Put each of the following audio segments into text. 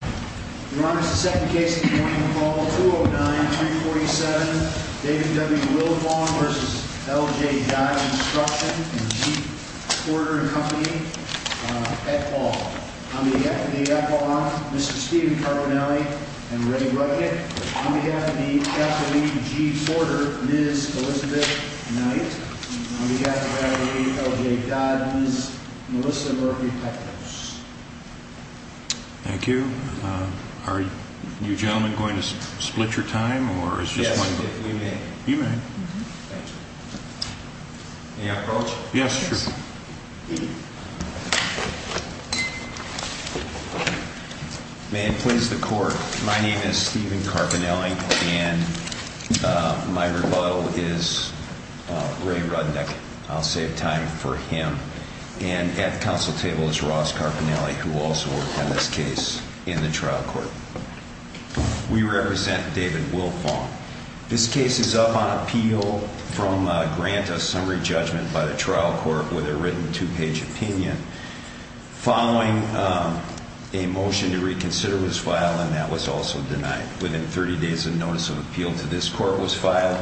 Your Honor, this is the second case of the morning of the fall, 209-347, David W. Wilfong v. L.J. Dodd Construction and G. Porter & Company, Pet Ball. On behalf of the Pet Ball Honor, Mr. Stephen Carbonelli and Ray Rudnick. On behalf of the F.W.G. Porter, Ms. Elizabeth Knight. On behalf of L.J. Dodd, Ms. Melissa Murphy Pecos. Thank you. Are you gentlemen going to split your time? Yes, if we may. You may. Thank you. May I approach? Yes, sure. May it please the court, my name is Stephen Carbonelli and my rebuttal is Ray Rudnick. I'll save time for him. And at the counsel table is Ross Carbonelli who also worked on this case in the trial court. We represent David Wilfong. This case is up on appeal from a grant of summary judgment by the trial court with a written two-page opinion. Following a motion to reconsider was filed and that was also denied. Within 30 days of notice of appeal to this court was filed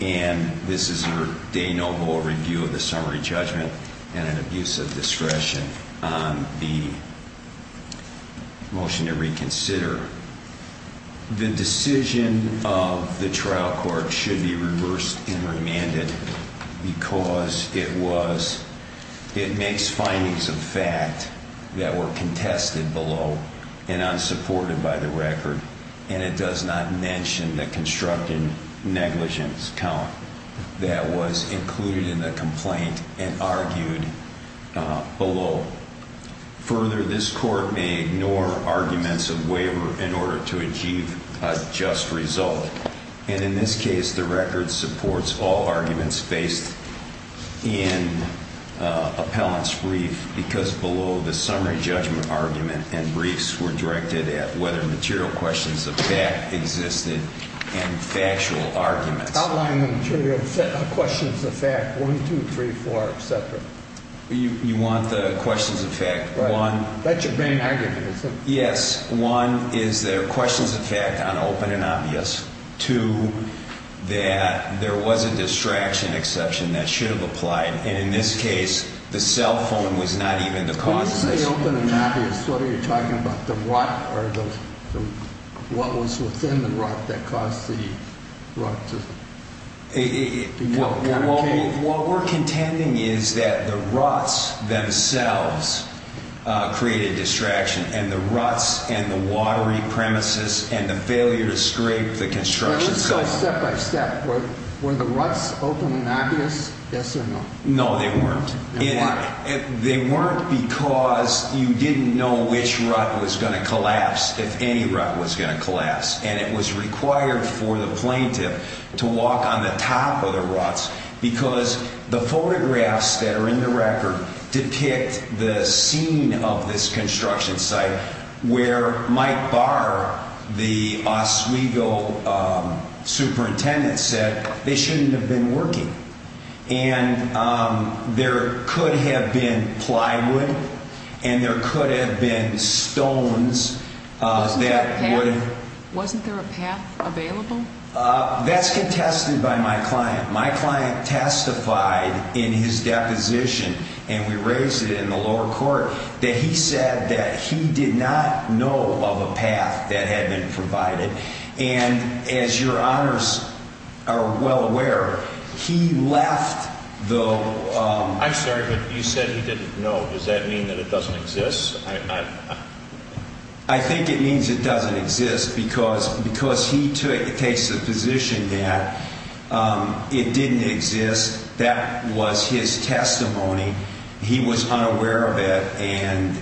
and this is your de novo review of the summary judgment and an abuse of discretion on the motion to reconsider. The decision of the trial court should be reversed and remanded because it was, it makes findings of fact that were contested below and unsupported by the record and it does not mention the constructive negligence count that was included in the complaint and argued below. Further, this court may ignore arguments of waiver in order to achieve a just result and in this case the record supports all arguments based in appellant's brief because below the summary judgment argument and briefs were directed at whether material questions of fact existed and factual arguments. Outline material questions of fact, one, two, three, four, et cetera. You want the questions of fact, one. That's your main argument, isn't it? Yes. One is there are questions of fact on open and obvious. Two, that there was a distraction exception that should have applied and in this case the cell phone was not even the cause of this. When you say open and obvious, what are you talking about? The rut or the, what was within the rut that caused the rut to become a cave? What we're contending is that the ruts themselves created distraction and the ruts and the watery premises and the failure to scrape the construction. Let's go step by step. Were the ruts open and obvious? Yes or no? No, they weren't. Why? They weren't because you didn't know which rut was going to collapse, if any rut was going to collapse, and it was required for the plaintiff to walk on the top of the ruts because the photographs that are in the record depict the scene of this construction site where Mike Barr, the Oswego superintendent, said they shouldn't have been working. And there could have been plywood and there could have been stones. Wasn't there a path available? That's contested by my client. My client testified in his deposition, and we raised it in the lower court, that he said that he did not know of a path that had been provided. And as your honors are well aware, he left the... I'm sorry, but you said he didn't know. Does that mean that it doesn't exist? I think it means it doesn't exist because he takes the position that it didn't exist. That was his testimony. He was unaware of it. And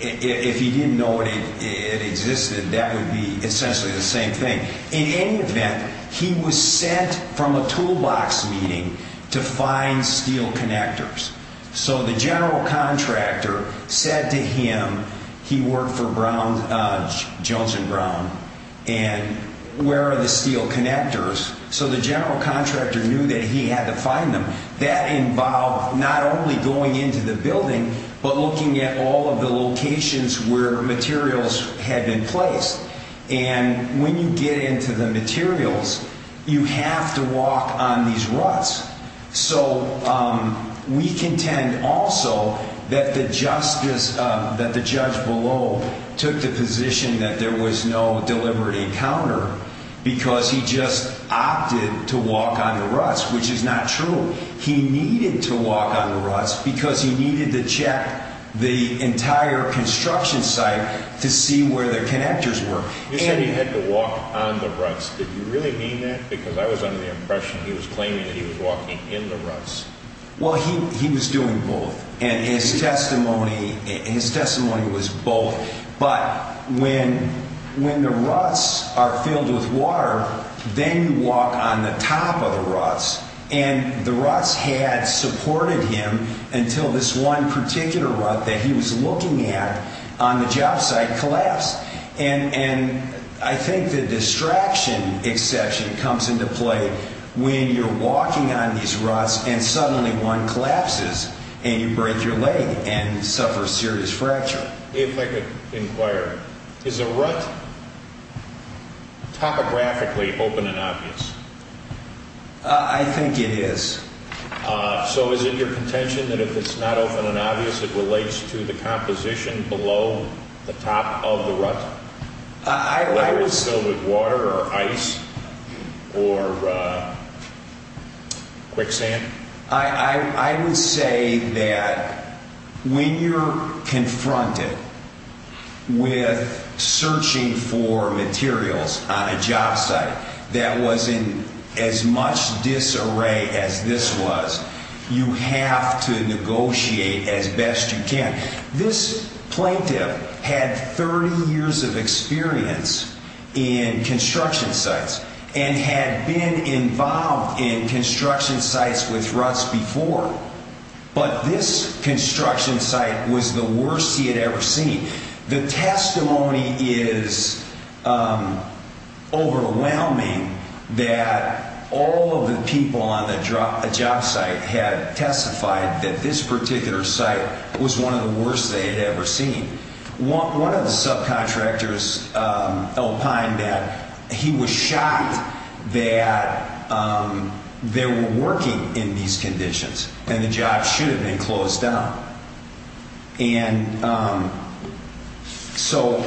if he didn't know it existed, that would be essentially the same thing. In any event, he was sent from a toolbox meeting to find steel connectors. So the general contractor said to him, he worked for Johnson Brown, and where are the steel connectors? So the general contractor knew that he had to find them. That involved not only going into the building but looking at all of the locations where materials had been placed. And when you get into the materials, you have to walk on these ruts. So we contend also that the judge below took the position that there was no deliberate encounter because he just opted to walk on the ruts, which is not true. He needed to walk on the ruts because he needed to check the entire construction site to see where the connectors were. You said he had to walk on the ruts. Did you really mean that? Because I was under the impression he was claiming that he was walking in the ruts. Well, he was doing both. And his testimony was both. But when the ruts are filled with water, then you walk on the top of the ruts. And the ruts had supported him until this one particular rut that he was looking at on the job site collapsed. And I think the distraction exception comes into play when you're walking on these ruts and suddenly one collapses and you break your leg and suffer a serious fracture. If I could inquire, is a rut topographically open and obvious? I think it is. So is it your contention that if it's not open and obvious, it relates to the composition below the top of the rut? Whether it's filled with water or ice or quicksand? I would say that when you're confronted with searching for materials on a job site that was in as much disarray as this was, you have to negotiate as best you can. This plaintiff had 30 years of experience in construction sites and had been involved in construction sites with ruts before. But this construction site was the worst he had ever seen. The testimony is overwhelming that all of the people on the job site had testified that this particular site was one of the worst they had ever seen. One of the subcontractors opined that he was shocked that they were working in these conditions and the job should have been closed down. And so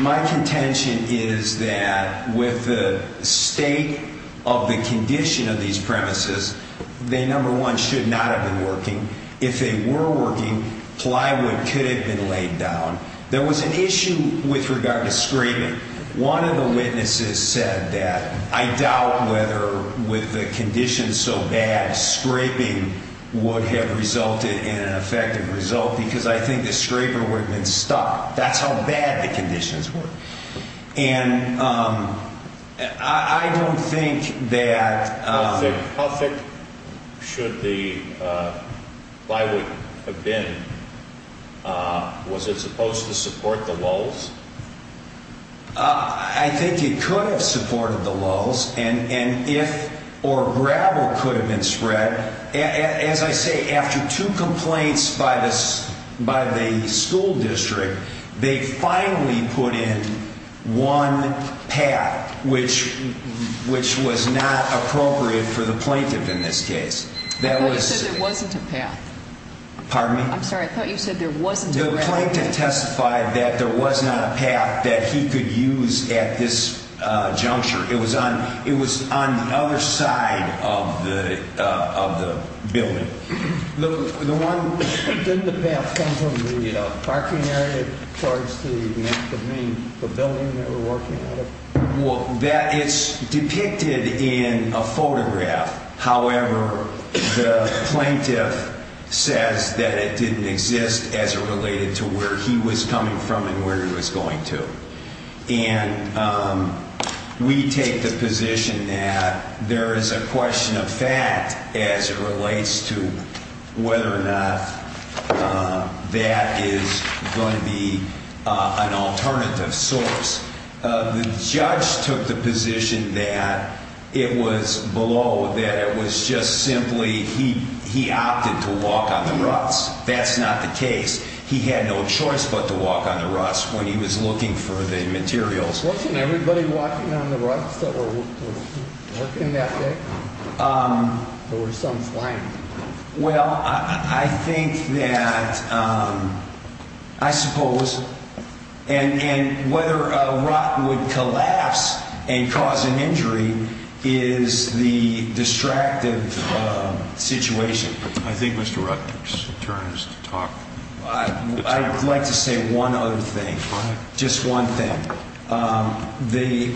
my contention is that with the state of the condition of these premises, they, number one, should not have been working. If they were working, plywood could have been laid down. There was an issue with regard to scraping. One of the witnesses said that, I doubt whether with the conditions so bad, scraping would have resulted in an effective result because I think the scraper would have been stuck. That's how bad the conditions were. And I don't think that... How thick should the plywood have been? Was it supposed to support the lulls? I think it could have supported the lulls. And if... or gravel could have been spread. As I say, after two complaints by the school district, they finally put in one path, which was not appropriate for the plaintiff in this case. I thought you said there wasn't a path. Pardon me? I'm sorry, I thought you said there wasn't a path. The plaintiff testified that there was not a path that he could use at this juncture. It was on the other side of the building. Didn't the path come from the parking area towards the main pavilion they were working out of? Well, that is depicted in a photograph. However, the plaintiff says that it didn't exist as it related to where he was coming from and where he was going to. And we take the position that there is a question of fact as it relates to whether or not that is going to be an alternative source. The judge took the position that it was below, that it was just simply he opted to walk on the ruts. That's not the case. He had no choice but to walk on the ruts when he was looking for the materials. Wasn't everybody walking on the ruts that were working that day? There were some flying. Well, I think that, I suppose, and whether a rut would collapse and cause an injury is the distractive situation. I think Mr. Rutgers turns to talk. I would like to say one other thing, just one thing. The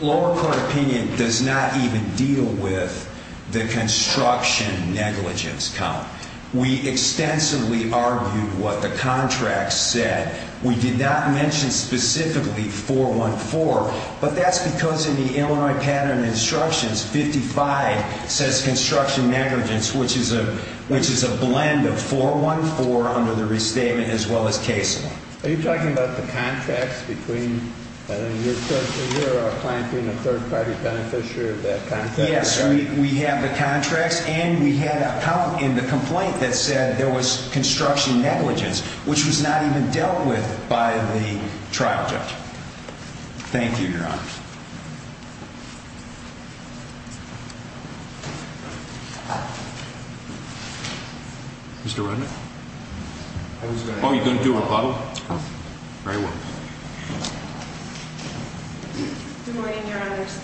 lower court opinion does not even deal with the construction negligence count. We extensively argued what the contract said. We did not mention specifically 414, but that's because in the Illinois Pattern of Instructions 55 says construction negligence, which is a blend of 414 under the restatement as well as case law. Are you talking about the contracts between your client being a third-party beneficiary of that contract? Yes, we have the contracts, and we had a count in the complaint that said there was construction negligence, which was not even dealt with by the trial judge. Thank you, Your Honor. Mr. Redman? Oh, you're going to do a rebuttal? Very well. Good morning, Your Honors.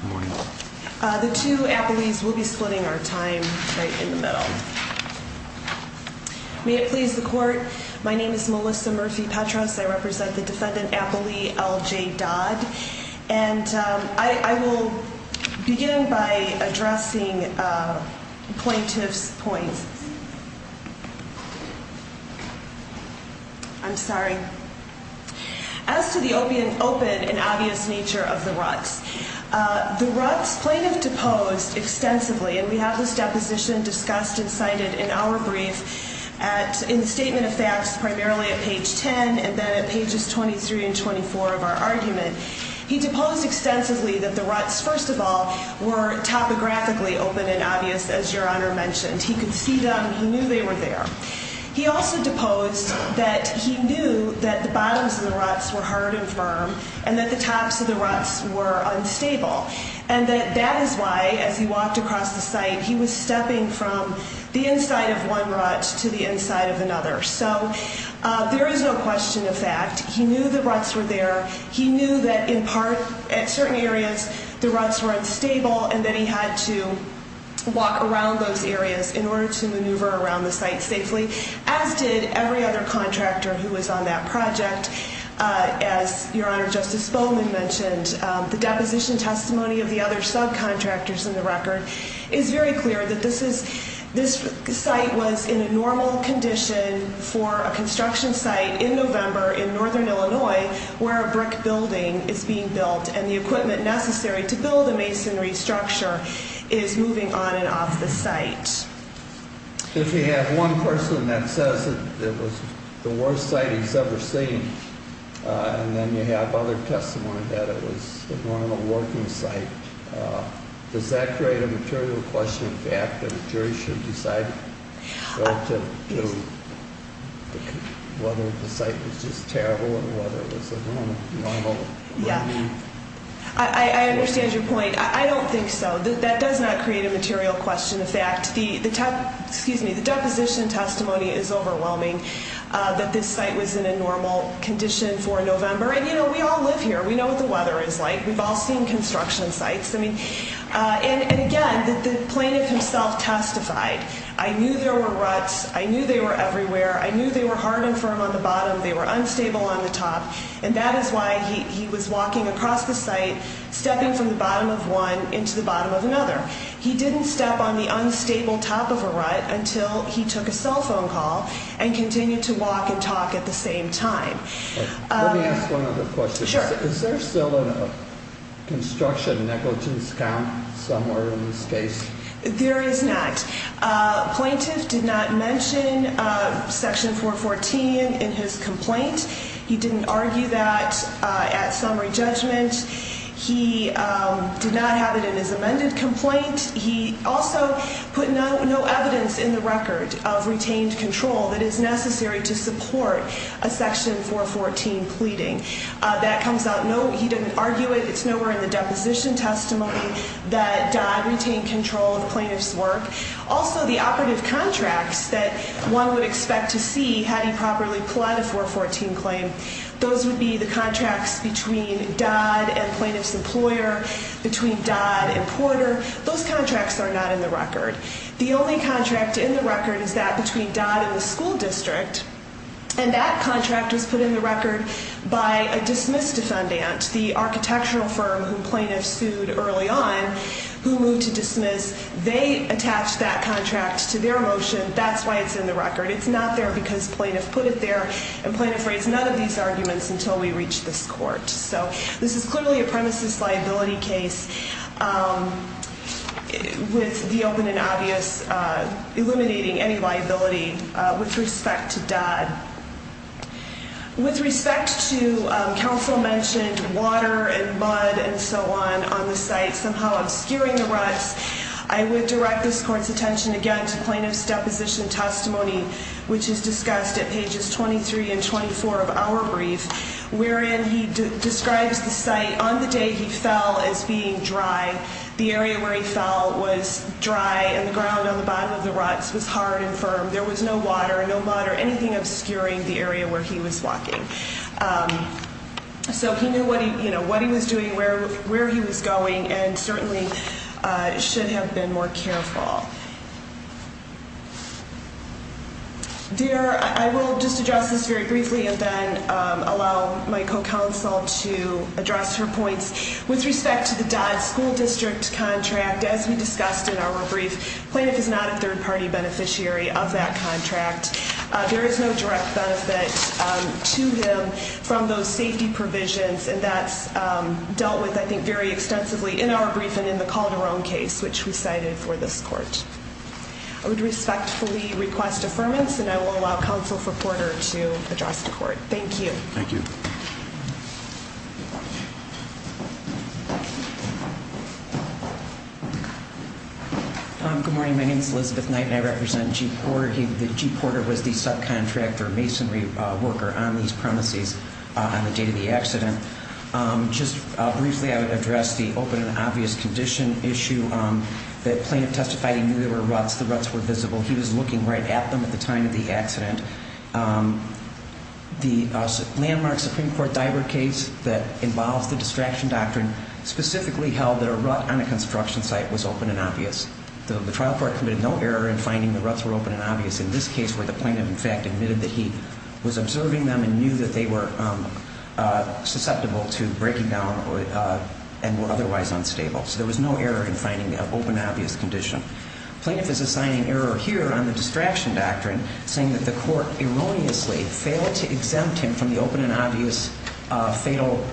Good morning. The two appellees will be splitting our time right in the middle. May it please the court, my name is Melissa Murphy-Petras. I represent the defendant appellee L.J. Dodd. And I will begin by addressing the plaintiff's point. I'm sorry. As to the open and obvious nature of the RUCs, the RUCs plaintiff deposed extensively, and we have this deposition discussed and cited in our brief in the Statement of Facts primarily at page 10 and then at pages 23 and 24 of our argument. He deposed extensively that the RUCs, first of all, were topographically open and obvious, as Your Honor mentioned. He could see them. He knew they were there. He also deposed that he knew that the bottoms of the RUCs were hard and firm and that the tops of the RUCs were unstable. And that that is why, as he walked across the site, he was stepping from the inside of one RUC to the inside of another. So there is no question of fact. He knew the RUCs were there. He knew that, in part, at certain areas, the RUCs were unstable, and that he had to walk around those areas in order to maneuver around the site safely, as did every other contractor who was on that project. As Your Honor, Justice Bowman mentioned, the deposition testimony of the other subcontractors in the record is very clear that this site was in a normal condition for a construction site in November in northern Illinois where a brick building is being built and the equipment necessary to build a masonry structure is moving on and off the site. If you have one person that says that it was the worst site he's ever seen, and then you have other testimony that it was a normal working site, does that create a material question of fact that a jury should decide relative to whether the site was just terrible and whether it was a normal building? Yeah. I understand your point. I don't think so. That does not create a material question of fact. The deposition testimony is overwhelming that this site was in a normal condition for November. And we all live here. We know what the weather is like. We've all seen construction sites. And again, the plaintiff himself testified. I knew there were RUCs. I knew they were everywhere. I knew they were hard and firm on the bottom. They were unstable on the top. And that is why he was walking across the site, stepping from the bottom of one into the bottom of another. He didn't step on the unstable top of a RUC until he took a cell phone call and continued to walk and talk at the same time. Let me ask one other question. Sure. Is there still a construction negligence count somewhere in this case? There is not. Plaintiff did not mention Section 414 in his complaint. He didn't argue that at summary judgment. He did not have it in his amended complaint. He also put no evidence in the record of retained control that is necessary to support a Section 414 pleading. That comes out. No, he didn't argue it. It's nowhere in the deposition testimony that Dodd retained control of plaintiff's work. Also, the operative contracts that one would expect to see had he properly pled a 414 claim, those would be the contracts between Dodd and plaintiff's employer, between Dodd and Porter. Those contracts are not in the record. The only contract in the record is that between Dodd and the school district. And that contract was put in the record by a dismiss defendant, the architectural firm who plaintiff sued early on, who moved to dismiss. They attached that contract to their motion. That's why it's in the record. It's not there because plaintiff put it there, and plaintiff raised none of these arguments until we reached this court. So this is clearly a premises liability case with the open and obvious, eliminating any liability with respect to Dodd. With respect to counsel mentioned water and mud and so on on the site, somehow obscuring the ruts, I would direct this court's attention again to plaintiff's deposition testimony, which is discussed at pages 23 and 24 of our brief, wherein he describes the site on the day he fell as being dry. The area where he fell was dry, and the ground on the bottom of the ruts was hard and firm. There was no water, no mud, or anything obscuring the area where he was walking. So he knew what he was doing, where he was going, and certainly should have been more careful. Dear, I will just address this very briefly and then allow my co-counsel to address her points. With respect to the Dodd school district contract, as we discussed in our brief, plaintiff is not a third-party beneficiary of that contract. There is no direct benefit to him from those safety provisions, and that's dealt with, I think, very extensively in our brief and in the Calderon case, which we cited for this court. I would respectfully request affirmance, and I will allow counsel for Porter to address the court. Thank you. Thank you. Good morning. My name is Elizabeth Knight, and I represent G. Porter. G. Porter was the subcontractor, masonry worker on these premises on the day of the accident. Just briefly, I would address the open and obvious condition issue. The plaintiff testified he knew there were ruts, the ruts were visible. He was looking right at them at the time of the accident. The landmark Supreme Court diver case that involves the distraction doctrine specifically held that a rut on a construction site was open and obvious. The trial court committed no error in finding the ruts were open and obvious in this case, where the plaintiff, in fact, admitted that he was observing them and knew that they were susceptible to breaking down and were otherwise unstable. So there was no error in finding the open and obvious condition. The plaintiff is assigning error here on the distraction doctrine, saying that the court erroneously failed to exempt him from the open and obvious fatal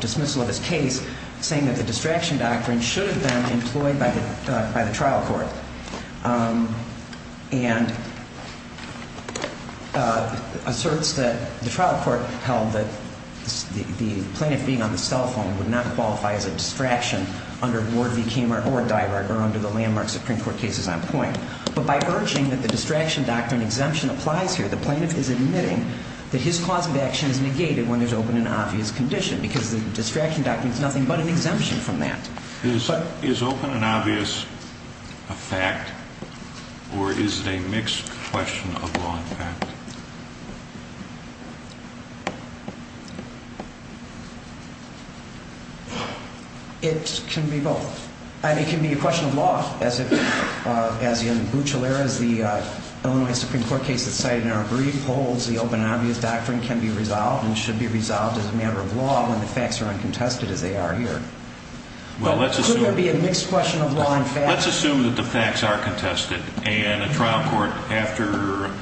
dismissal of his case, saying that the distraction doctrine should have been employed by the trial court, and asserts that the trial court held that the plaintiff being on the cell phone would not qualify as a distraction under Ward v. Kammerer or Diver or under the landmark Supreme Court cases on point. But by urging that the distraction doctrine exemption applies here, the plaintiff is admitting that his cause of action is negated when there's open and obvious condition because the distraction doctrine is nothing but an exemption from that. Is open and obvious a fact, or is it a mixed question of law and fact? It can be both. And it can be a question of law, as in Bucciolera's, the Illinois Supreme Court case that's cited in our brief, holds the open and obvious doctrine can be resolved and should be resolved as a matter of law when the facts are uncontested as they are here. But could there be a mixed question of law and fact? Let's assume that the facts are contested, and a trial court, after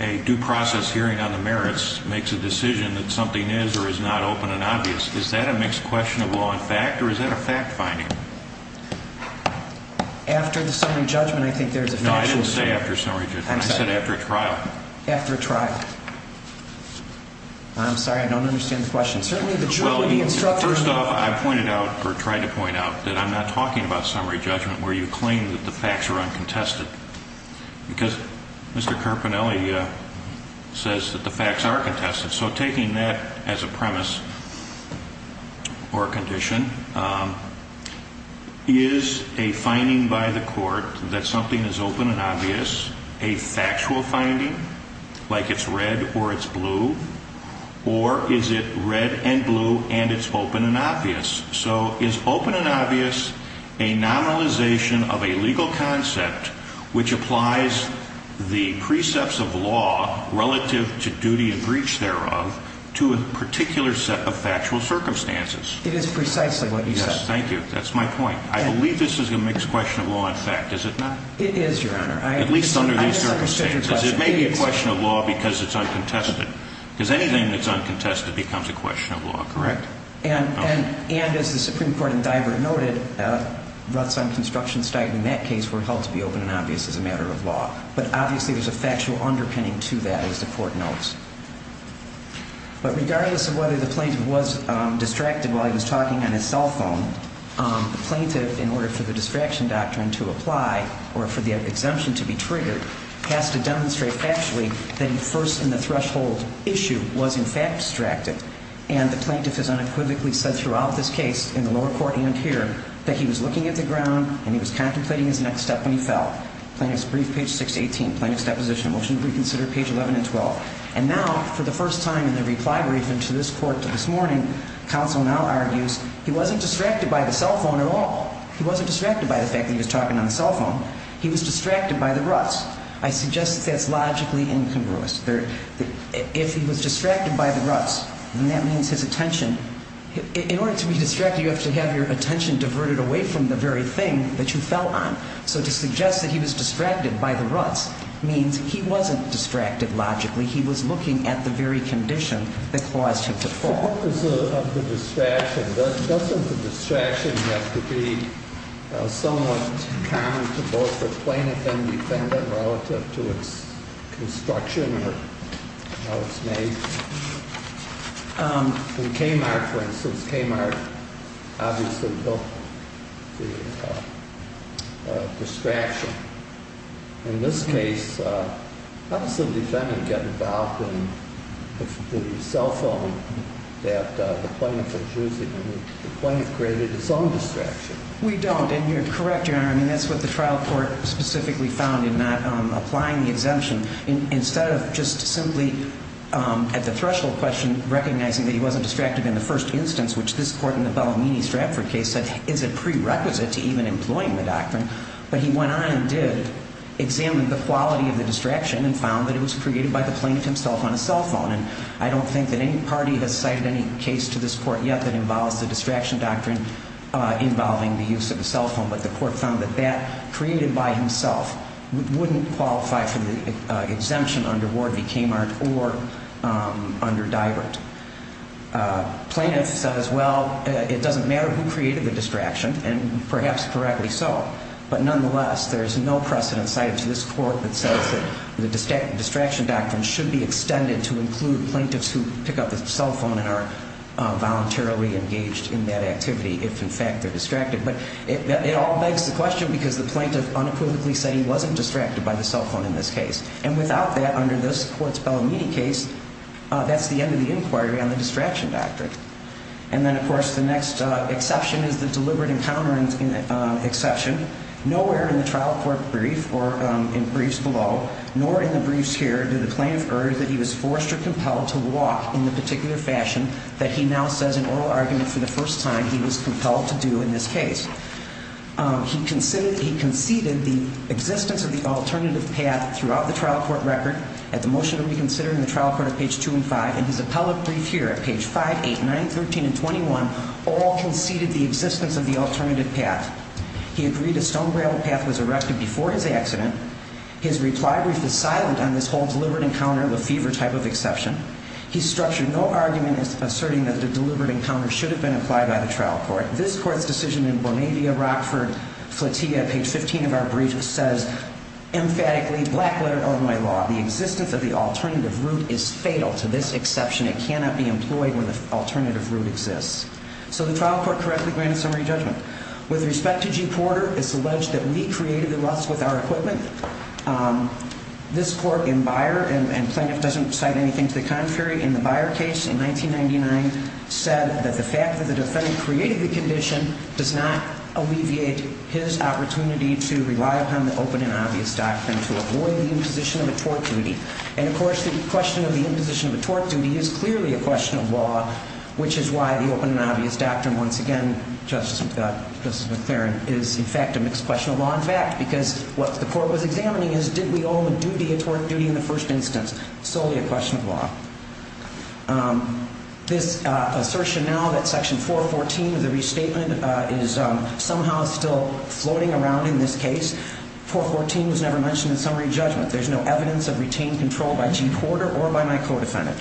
a due process hearing on the merits, makes a decision that something is or is not open and obvious. Is that a mixed question of law and fact, or is that a fact-finding? After the summary judgment, I think there's a factual statement. No, I didn't say after summary judgment. I said after a trial. After a trial. I'm sorry, I don't understand the question. Well, first off, I pointed out, or tried to point out, that I'm not talking about summary judgment where you claim that the facts are uncontested, because Mr. Carpinelli says that the facts are contested. So taking that as a premise or condition, is a finding by the court that something is open and obvious a factual finding, like it's red or it's blue, or is it red and blue and it's open and obvious? So is open and obvious a nominalization of a legal concept, which applies the precepts of law relative to duty and breach thereof, to a particular set of factual circumstances? It is precisely what you said. Yes, thank you. That's my point. I believe this is a mixed question of law and fact, is it not? It is, Your Honor. At least under these circumstances. It may be a question of law because it's uncontested. Because anything that's uncontested becomes a question of law, correct? And as the Supreme Court in Divert noted, ruts on construction site in that case were held to be open and obvious as a matter of law. But obviously there's a factual underpinning to that, as the court notes. But regardless of whether the plaintiff was distracted while he was talking on his cell phone, the plaintiff, in order for the distraction doctrine to apply, or for the exemption to be triggered, has to demonstrate factually that he first in the threshold issue was in fact distracted. And the plaintiff has unequivocally said throughout this case, in the lower court and here, that he was looking at the ground and he was contemplating his next step when he fell. Plaintiff's brief, page 618. Plaintiff's deposition, motion to reconsider, page 11 and 12. And now, for the first time in the reply briefing to this court this morning, counsel now argues he wasn't distracted by the cell phone at all. He wasn't distracted by the fact that he was talking on the cell phone. He was distracted by the ruts. I suggest that that's logically incongruous. If he was distracted by the ruts, then that means his attention. In order to be distracted, you have to have your attention diverted away from the very thing that you fell on. So to suggest that he was distracted by the ruts means he wasn't distracted logically. He was looking at the very condition that caused him to fall. What is the distraction? Doesn't the distraction have to be somewhat common to both the plaintiff and defendant relative to its construction or how it's made? In Kmart, for instance, Kmart obviously built the distraction. In this case, how does the defendant get involved in the cell phone that the plaintiff is using? The plaintiff created his own distraction. We don't, and you're correct, Your Honor. I mean, that's what the trial court specifically found in not applying the exemption. Instead of just simply at the threshold question recognizing that he wasn't distracted in the first instance, which this court in the Bellamini-Stratford case said is a prerequisite to even employing the doctrine, but he went on and did examine the quality of the distraction and found that it was created by the plaintiff himself on a cell phone. And I don't think that any party has cited any case to this court yet that involves the distraction doctrine involving the use of a cell phone, but the court found that that created by himself wouldn't qualify for the exemption under Ward v. Kmart or under Divert. Plaintiff says, well, it doesn't matter who created the distraction, and perhaps correctly so, but nonetheless, there's no precedent cited to this court that says that the distraction doctrine should be extended to include plaintiffs who pick up the cell phone and are voluntarily engaged in that activity if, in fact, they're distracted. But it all begs the question because the plaintiff unequivocally said he wasn't distracted by the cell phone in this case, and without that under this court's Bellamini case, that's the end of the inquiry on the distraction doctrine. And then, of course, the next exception is the deliberate encounter exception. Nowhere in the trial court brief or in briefs below, nor in the briefs here, did the plaintiff urge that he was forced or compelled to walk in the particular fashion that he now says in oral argument for the first time he was compelled to do in this case. He conceded the existence of the alternative path throughout the trial court record at the motion to reconsider in the trial court at page 2 and 5, and his appellate brief here at page 5, 8, 9, 13, and 21 all conceded the existence of the alternative path. He agreed a stone gravel path was erected before his accident. His reply brief is silent on this whole deliberate encounter of a fever type of exception. He structured no argument as asserting that a deliberate encounter should have been applied by the trial court. This court's decision in Bonavia, Rockford, Flotilla, page 15 of our brief, says emphatically, black letter Illinois law, the existence of the alternative route is fatal to this exception. It cannot be employed when the alternative route exists. So the trial court correctly granted summary judgment. With respect to G. Porter, it's alleged that we created the rust with our equipment. This court in Beyer, and plaintiff doesn't cite anything to the contrary, in the Beyer case in 1999 said that the fact that the defendant created the condition does not alleviate his opportunity to rely upon the open and obvious doctrine to avoid the imposition of a tort duty. And, of course, the question of the imposition of a tort duty is clearly a question of law, which is why the open and obvious doctrine, once again, Justice McLaren, is, in fact, a mixed question of law. In fact, because what the court was examining is did we owe a duty a tort duty in the first instance? Solely a question of law. This assertion now that section 414 of the restatement is somehow still floating around in this case. 414 was never mentioned in summary judgment. There's no evidence of retained control by G. Porter or by my co-defendant.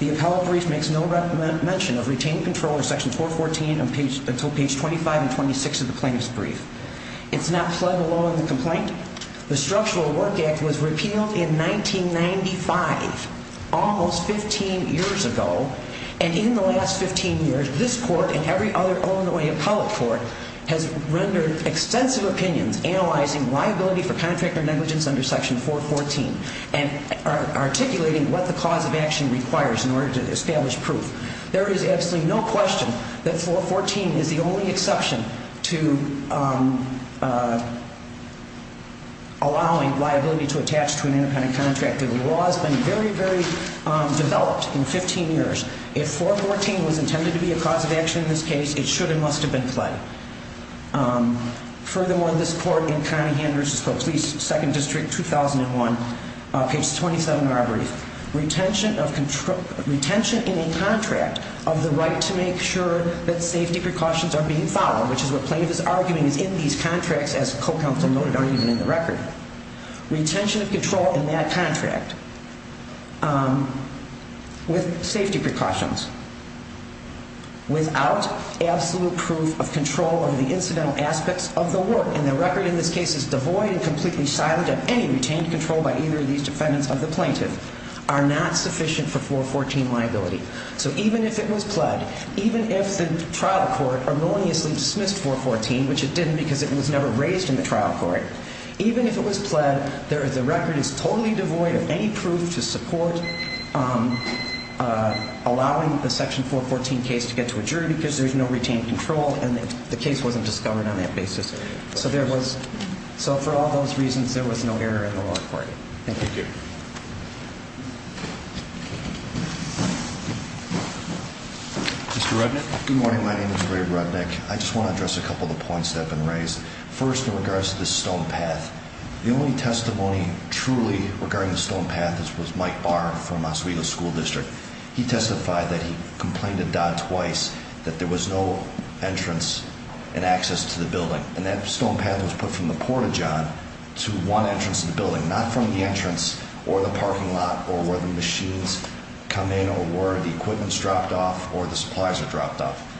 The appellate brief makes no mention of retained control of section 414 until page 25 and 26 of the plaintiff's brief. It's not pled the law in the complaint. The Structural Work Act was repealed in 1995, almost 15 years ago. And in the last 15 years, this court and every other Illinois appellate court has rendered extensive opinions analyzing liability for contractor negligence under section 414 and articulating what the cause of action requires in order to establish proof. There is absolutely no question that 414 is the only exception to allowing liability to attach to an independent contractor. The law has been very, very developed in 15 years. If 414 was intended to be a cause of action in this case, it should and must have been pled. Furthermore, this court in Conningham v. Pope's Lease, 2nd District, 2001, page 27 of our brief, does not have retention in a contract of the right to make sure that safety precautions are being followed, which is what plaintiff is arguing is in these contracts, as co-counsel noted, or even in the record. Retention of control in that contract with safety precautions, without absolute proof of control of the incidental aspects of the work, and the record in this case is devoid and completely silent of any retained control by either of these defendants of the plaintiff, are not sufficient for 414 liability. So even if it was pled, even if the trial court erroneously dismissed 414, which it didn't because it was never raised in the trial court, even if it was pled, the record is totally devoid of any proof to support allowing the section 414 case to get to a jury because there's no retained control and the case wasn't discovered on that basis. So for all those reasons, there was no error in the law court. Thank you. Mr. Rudnick? Good morning. My name is Ray Rudnick. I just want to address a couple of the points that have been raised. First, in regards to the stone path, the only testimony truly regarding the stone path was Mike Barr from Oswego School District. He testified that he complained to Dodd twice that there was no entrance and access to the building, and that stone path was put from the port of John to one entrance of the building, not from the entrance or the parking lot or where the machines come in or where the equipment is dropped off or the supplies are dropped off.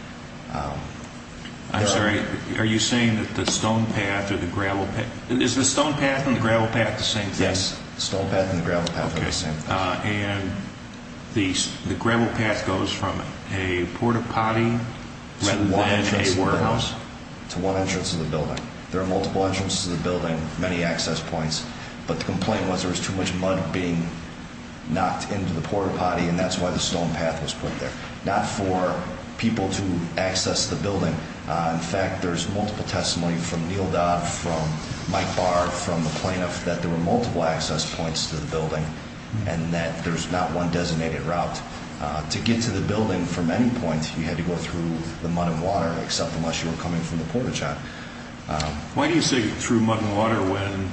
I'm sorry. Are you saying that the stone path or the gravel path – is the stone path and the gravel path the same thing? Yes, the stone path and the gravel path are the same. And the gravel path goes from a port-o-potty rather than a warehouse? To one entrance of the building. There are multiple entrances to the building, many access points, but the complaint was there was too much mud being knocked into the port-o-potty, and that's why the stone path was put there. Not for people to access the building. In fact, there's multiple testimony from Neil Dodd, from Mike Barr, from the plaintiff, that there were multiple access points to the building and that there's not one designated route. To get to the building from any point, you had to go through the mud and water, except unless you were coming from the port of John. Why do you say through mud and water when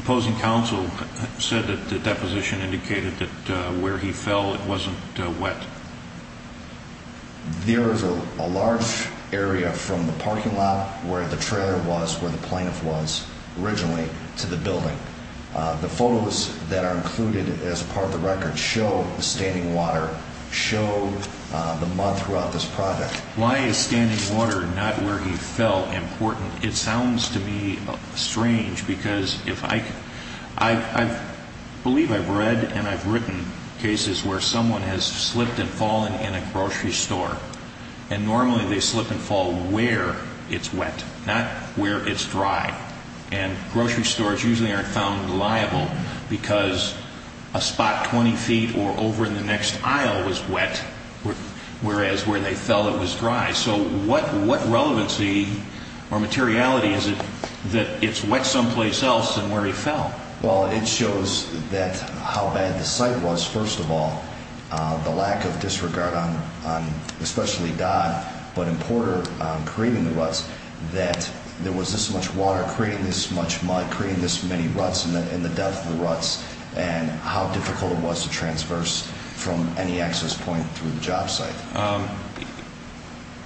opposing counsel said that the deposition indicated that where he fell it wasn't wet? There is a large area from the parking lot where the trailer was, where the plaintiff was originally, to the building. The photos that are included as part of the record show the standing water, show the mud throughout this project. Why is standing water not where he fell important? It sounds to me strange because I believe I've read and I've written cases where someone has slipped and fallen in a grocery store, and normally they slip and fall where it's wet, not where it's dry. Grocery stores usually aren't found liable because a spot 20 feet or over in the next aisle was wet, whereas where they fell it was dry. So what relevancy or materiality is it that it's wet someplace else than where he fell? Well, it shows how bad the site was, first of all. The lack of disregard on especially Dodd, but in Porter, creating the ruts, that there was this much water creating this much mud creating this many ruts and the depth of the ruts and how difficult it was to transverse from any access point through the job site.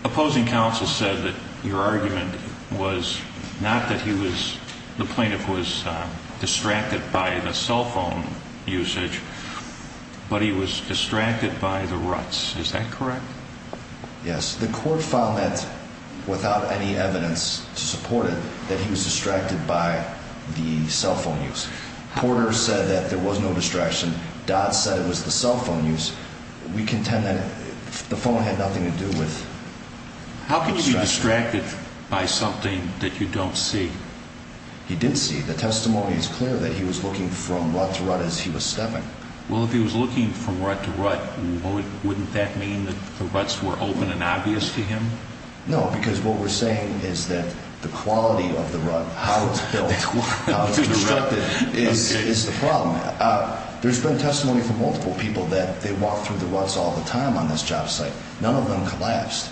Opposing counsel said that your argument was not that the plaintiff was distracted by the cell phone usage, but he was distracted by the ruts. Is that correct? Yes. The court found that without any evidence to support it, that he was distracted by the cell phone use. Porter said that there was no distraction. Dodd said it was the cell phone use. We contend that the phone had nothing to do with distraction. How could he be distracted by something that you don't see? He did see. The testimony is clear that he was looking from rut to rut as he was stepping. Well, if he was looking from rut to rut, wouldn't that mean that the ruts were open and obvious to him? No, because what we're saying is that the quality of the rut, how it was built, how it was constructed is the problem. There's been testimony from multiple people that they walked through the ruts all the time on this job site. None of them collapsed.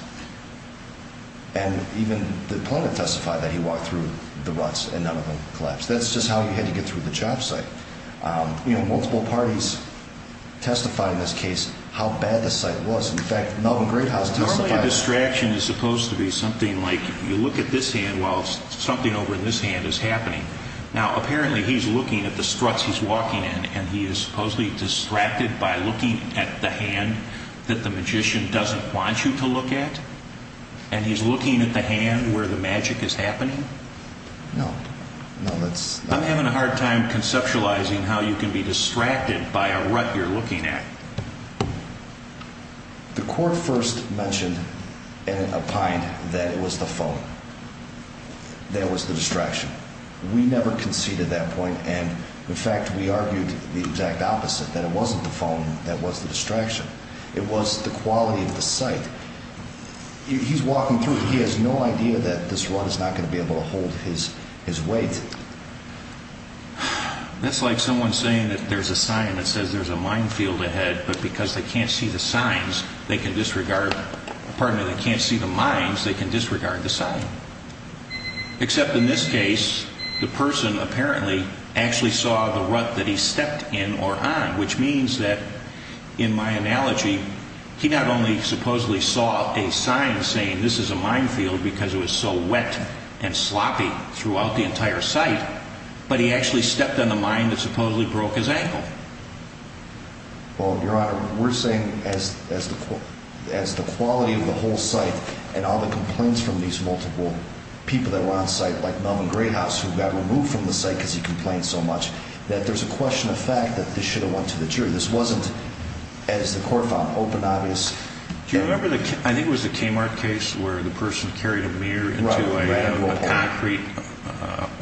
And even the plaintiff testified that he walked through the ruts and none of them collapsed. That's just how you had to get through the job site. Multiple parties testified in this case how bad the site was. In fact, Melvin Greathouse testified. Normally a distraction is supposed to be something like you look at this hand while something over in this hand is happening. Now, apparently he's looking at the struts he's walking in, and he is supposedly distracted by looking at the hand that the magician doesn't want you to look at? And he's looking at the hand where the magic is happening? No. I'm having a hard time conceptualizing how you can be distracted by a rut you're looking at. The court first mentioned in a pint that it was the phone. That was the distraction. We never conceded that point. And, in fact, we argued the exact opposite, that it wasn't the phone that was the distraction. It was the quality of the site. He's walking through. He has no idea that this rut is not going to be able to hold his weight. That's like someone saying that there's a sign that says there's a minefield ahead, but because they can't see the mines, they can disregard the sign. Except in this case, the person apparently actually saw the rut that he stepped in or on, which means that, in my analogy, he not only supposedly saw a sign saying this is a minefield because it was so wet and sloppy throughout the entire site, but he actually stepped on the mine that supposedly broke his ankle. Well, Your Honor, we're saying as the quality of the whole site and all the complaints from these multiple people that were on site, like Melvin Greyhouse, who got removed from the site because he complained so much, that there's a question of fact that this should have went to the jury. This wasn't, as the court found open, obvious. Do you remember, I think it was the Kmart case, where the person carried a mirror into a concrete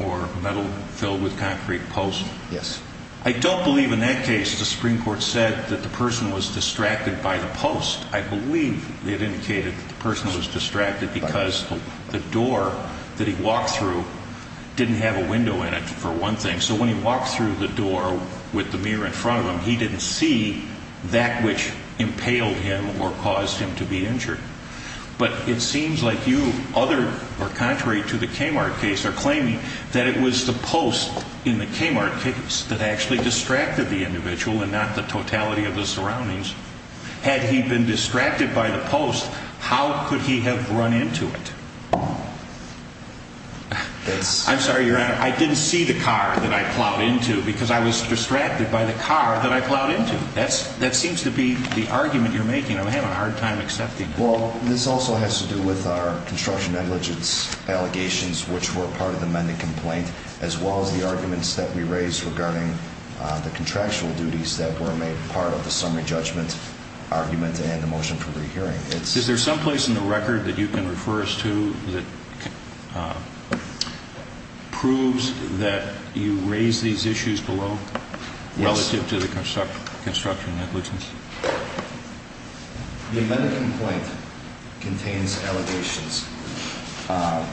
or metal filled with concrete post? Yes. I don't believe in that case the Supreme Court said that the person was distracted by the post. I believe it indicated that the person was distracted because the door that he walked through didn't have a window in it, for one thing. So when he walked through the door with the mirror in front of him, he didn't see that which impaled him or caused him to be injured. But it seems like you, other or contrary to the Kmart case, are claiming that it was the post in the Kmart case that actually distracted the individual and not the totality of the surroundings. Had he been distracted by the post, how could he have run into it? I'm sorry, Your Honor, I didn't see the car that I plowed into because I was distracted by the car that I plowed into. That seems to be the argument you're making. I'm having a hard time accepting it. Well, this also has to do with our construction negligence allegations, which were part of the amended complaint, as well as the arguments that we raised regarding the contractual duties that were made part of the summary judgment argument and the motion for re-hearing. Is there someplace in the record that you can refer us to that proves that you raised these issues below relative to the construction negligence? The amended complaint contains allegations,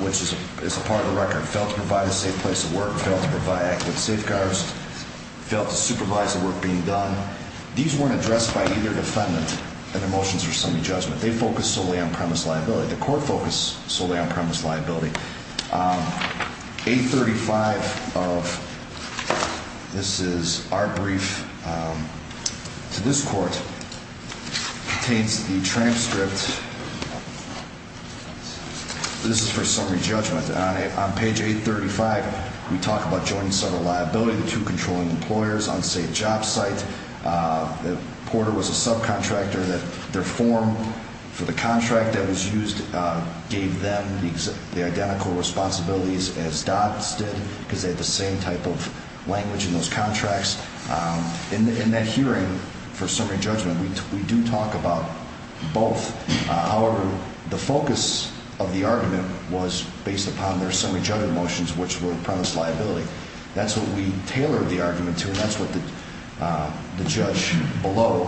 which is a part of the record. Failed to provide a safe place to work, failed to provide active safeguards, failed to supervise the work being done. These weren't addressed by either defendant in the motions for summary judgment. They focus solely on premise liability. The court focused solely on premise liability. Page 835, this is our brief to this court, contains the transcript. This is for summary judgment. On page 835, we talk about joint and several liability, the two controlling employers, unsafe job site. Porter was a subcontractor. Their form for the contract that was used gave them the identical responsibilities as Dodds did, because they had the same type of language in those contracts. In that hearing for summary judgment, we do talk about both. However, the focus of the argument was based upon their summary judgment motions, which were premise liability. That's what we tailored the argument to, and that's what the judge below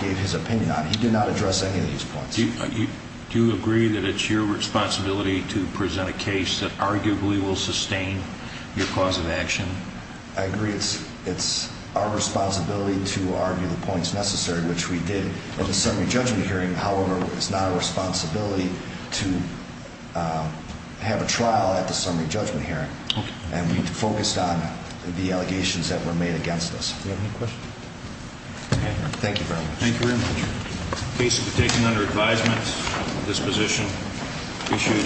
gave his opinion on. He did not address any of these points. Do you agree that it's your responsibility to present a case that arguably will sustain your cause of action? I agree it's our responsibility to argue the points necessary, which we did at the summary judgment hearing. However, it's not our responsibility to have a trial at the summary judgment hearing. And we focused on the allegations that were made against us. Do you have any questions? Thank you very much. Thank you very much. The case has been taken under advisement. This position issued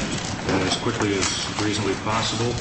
as quickly as reasonably possible.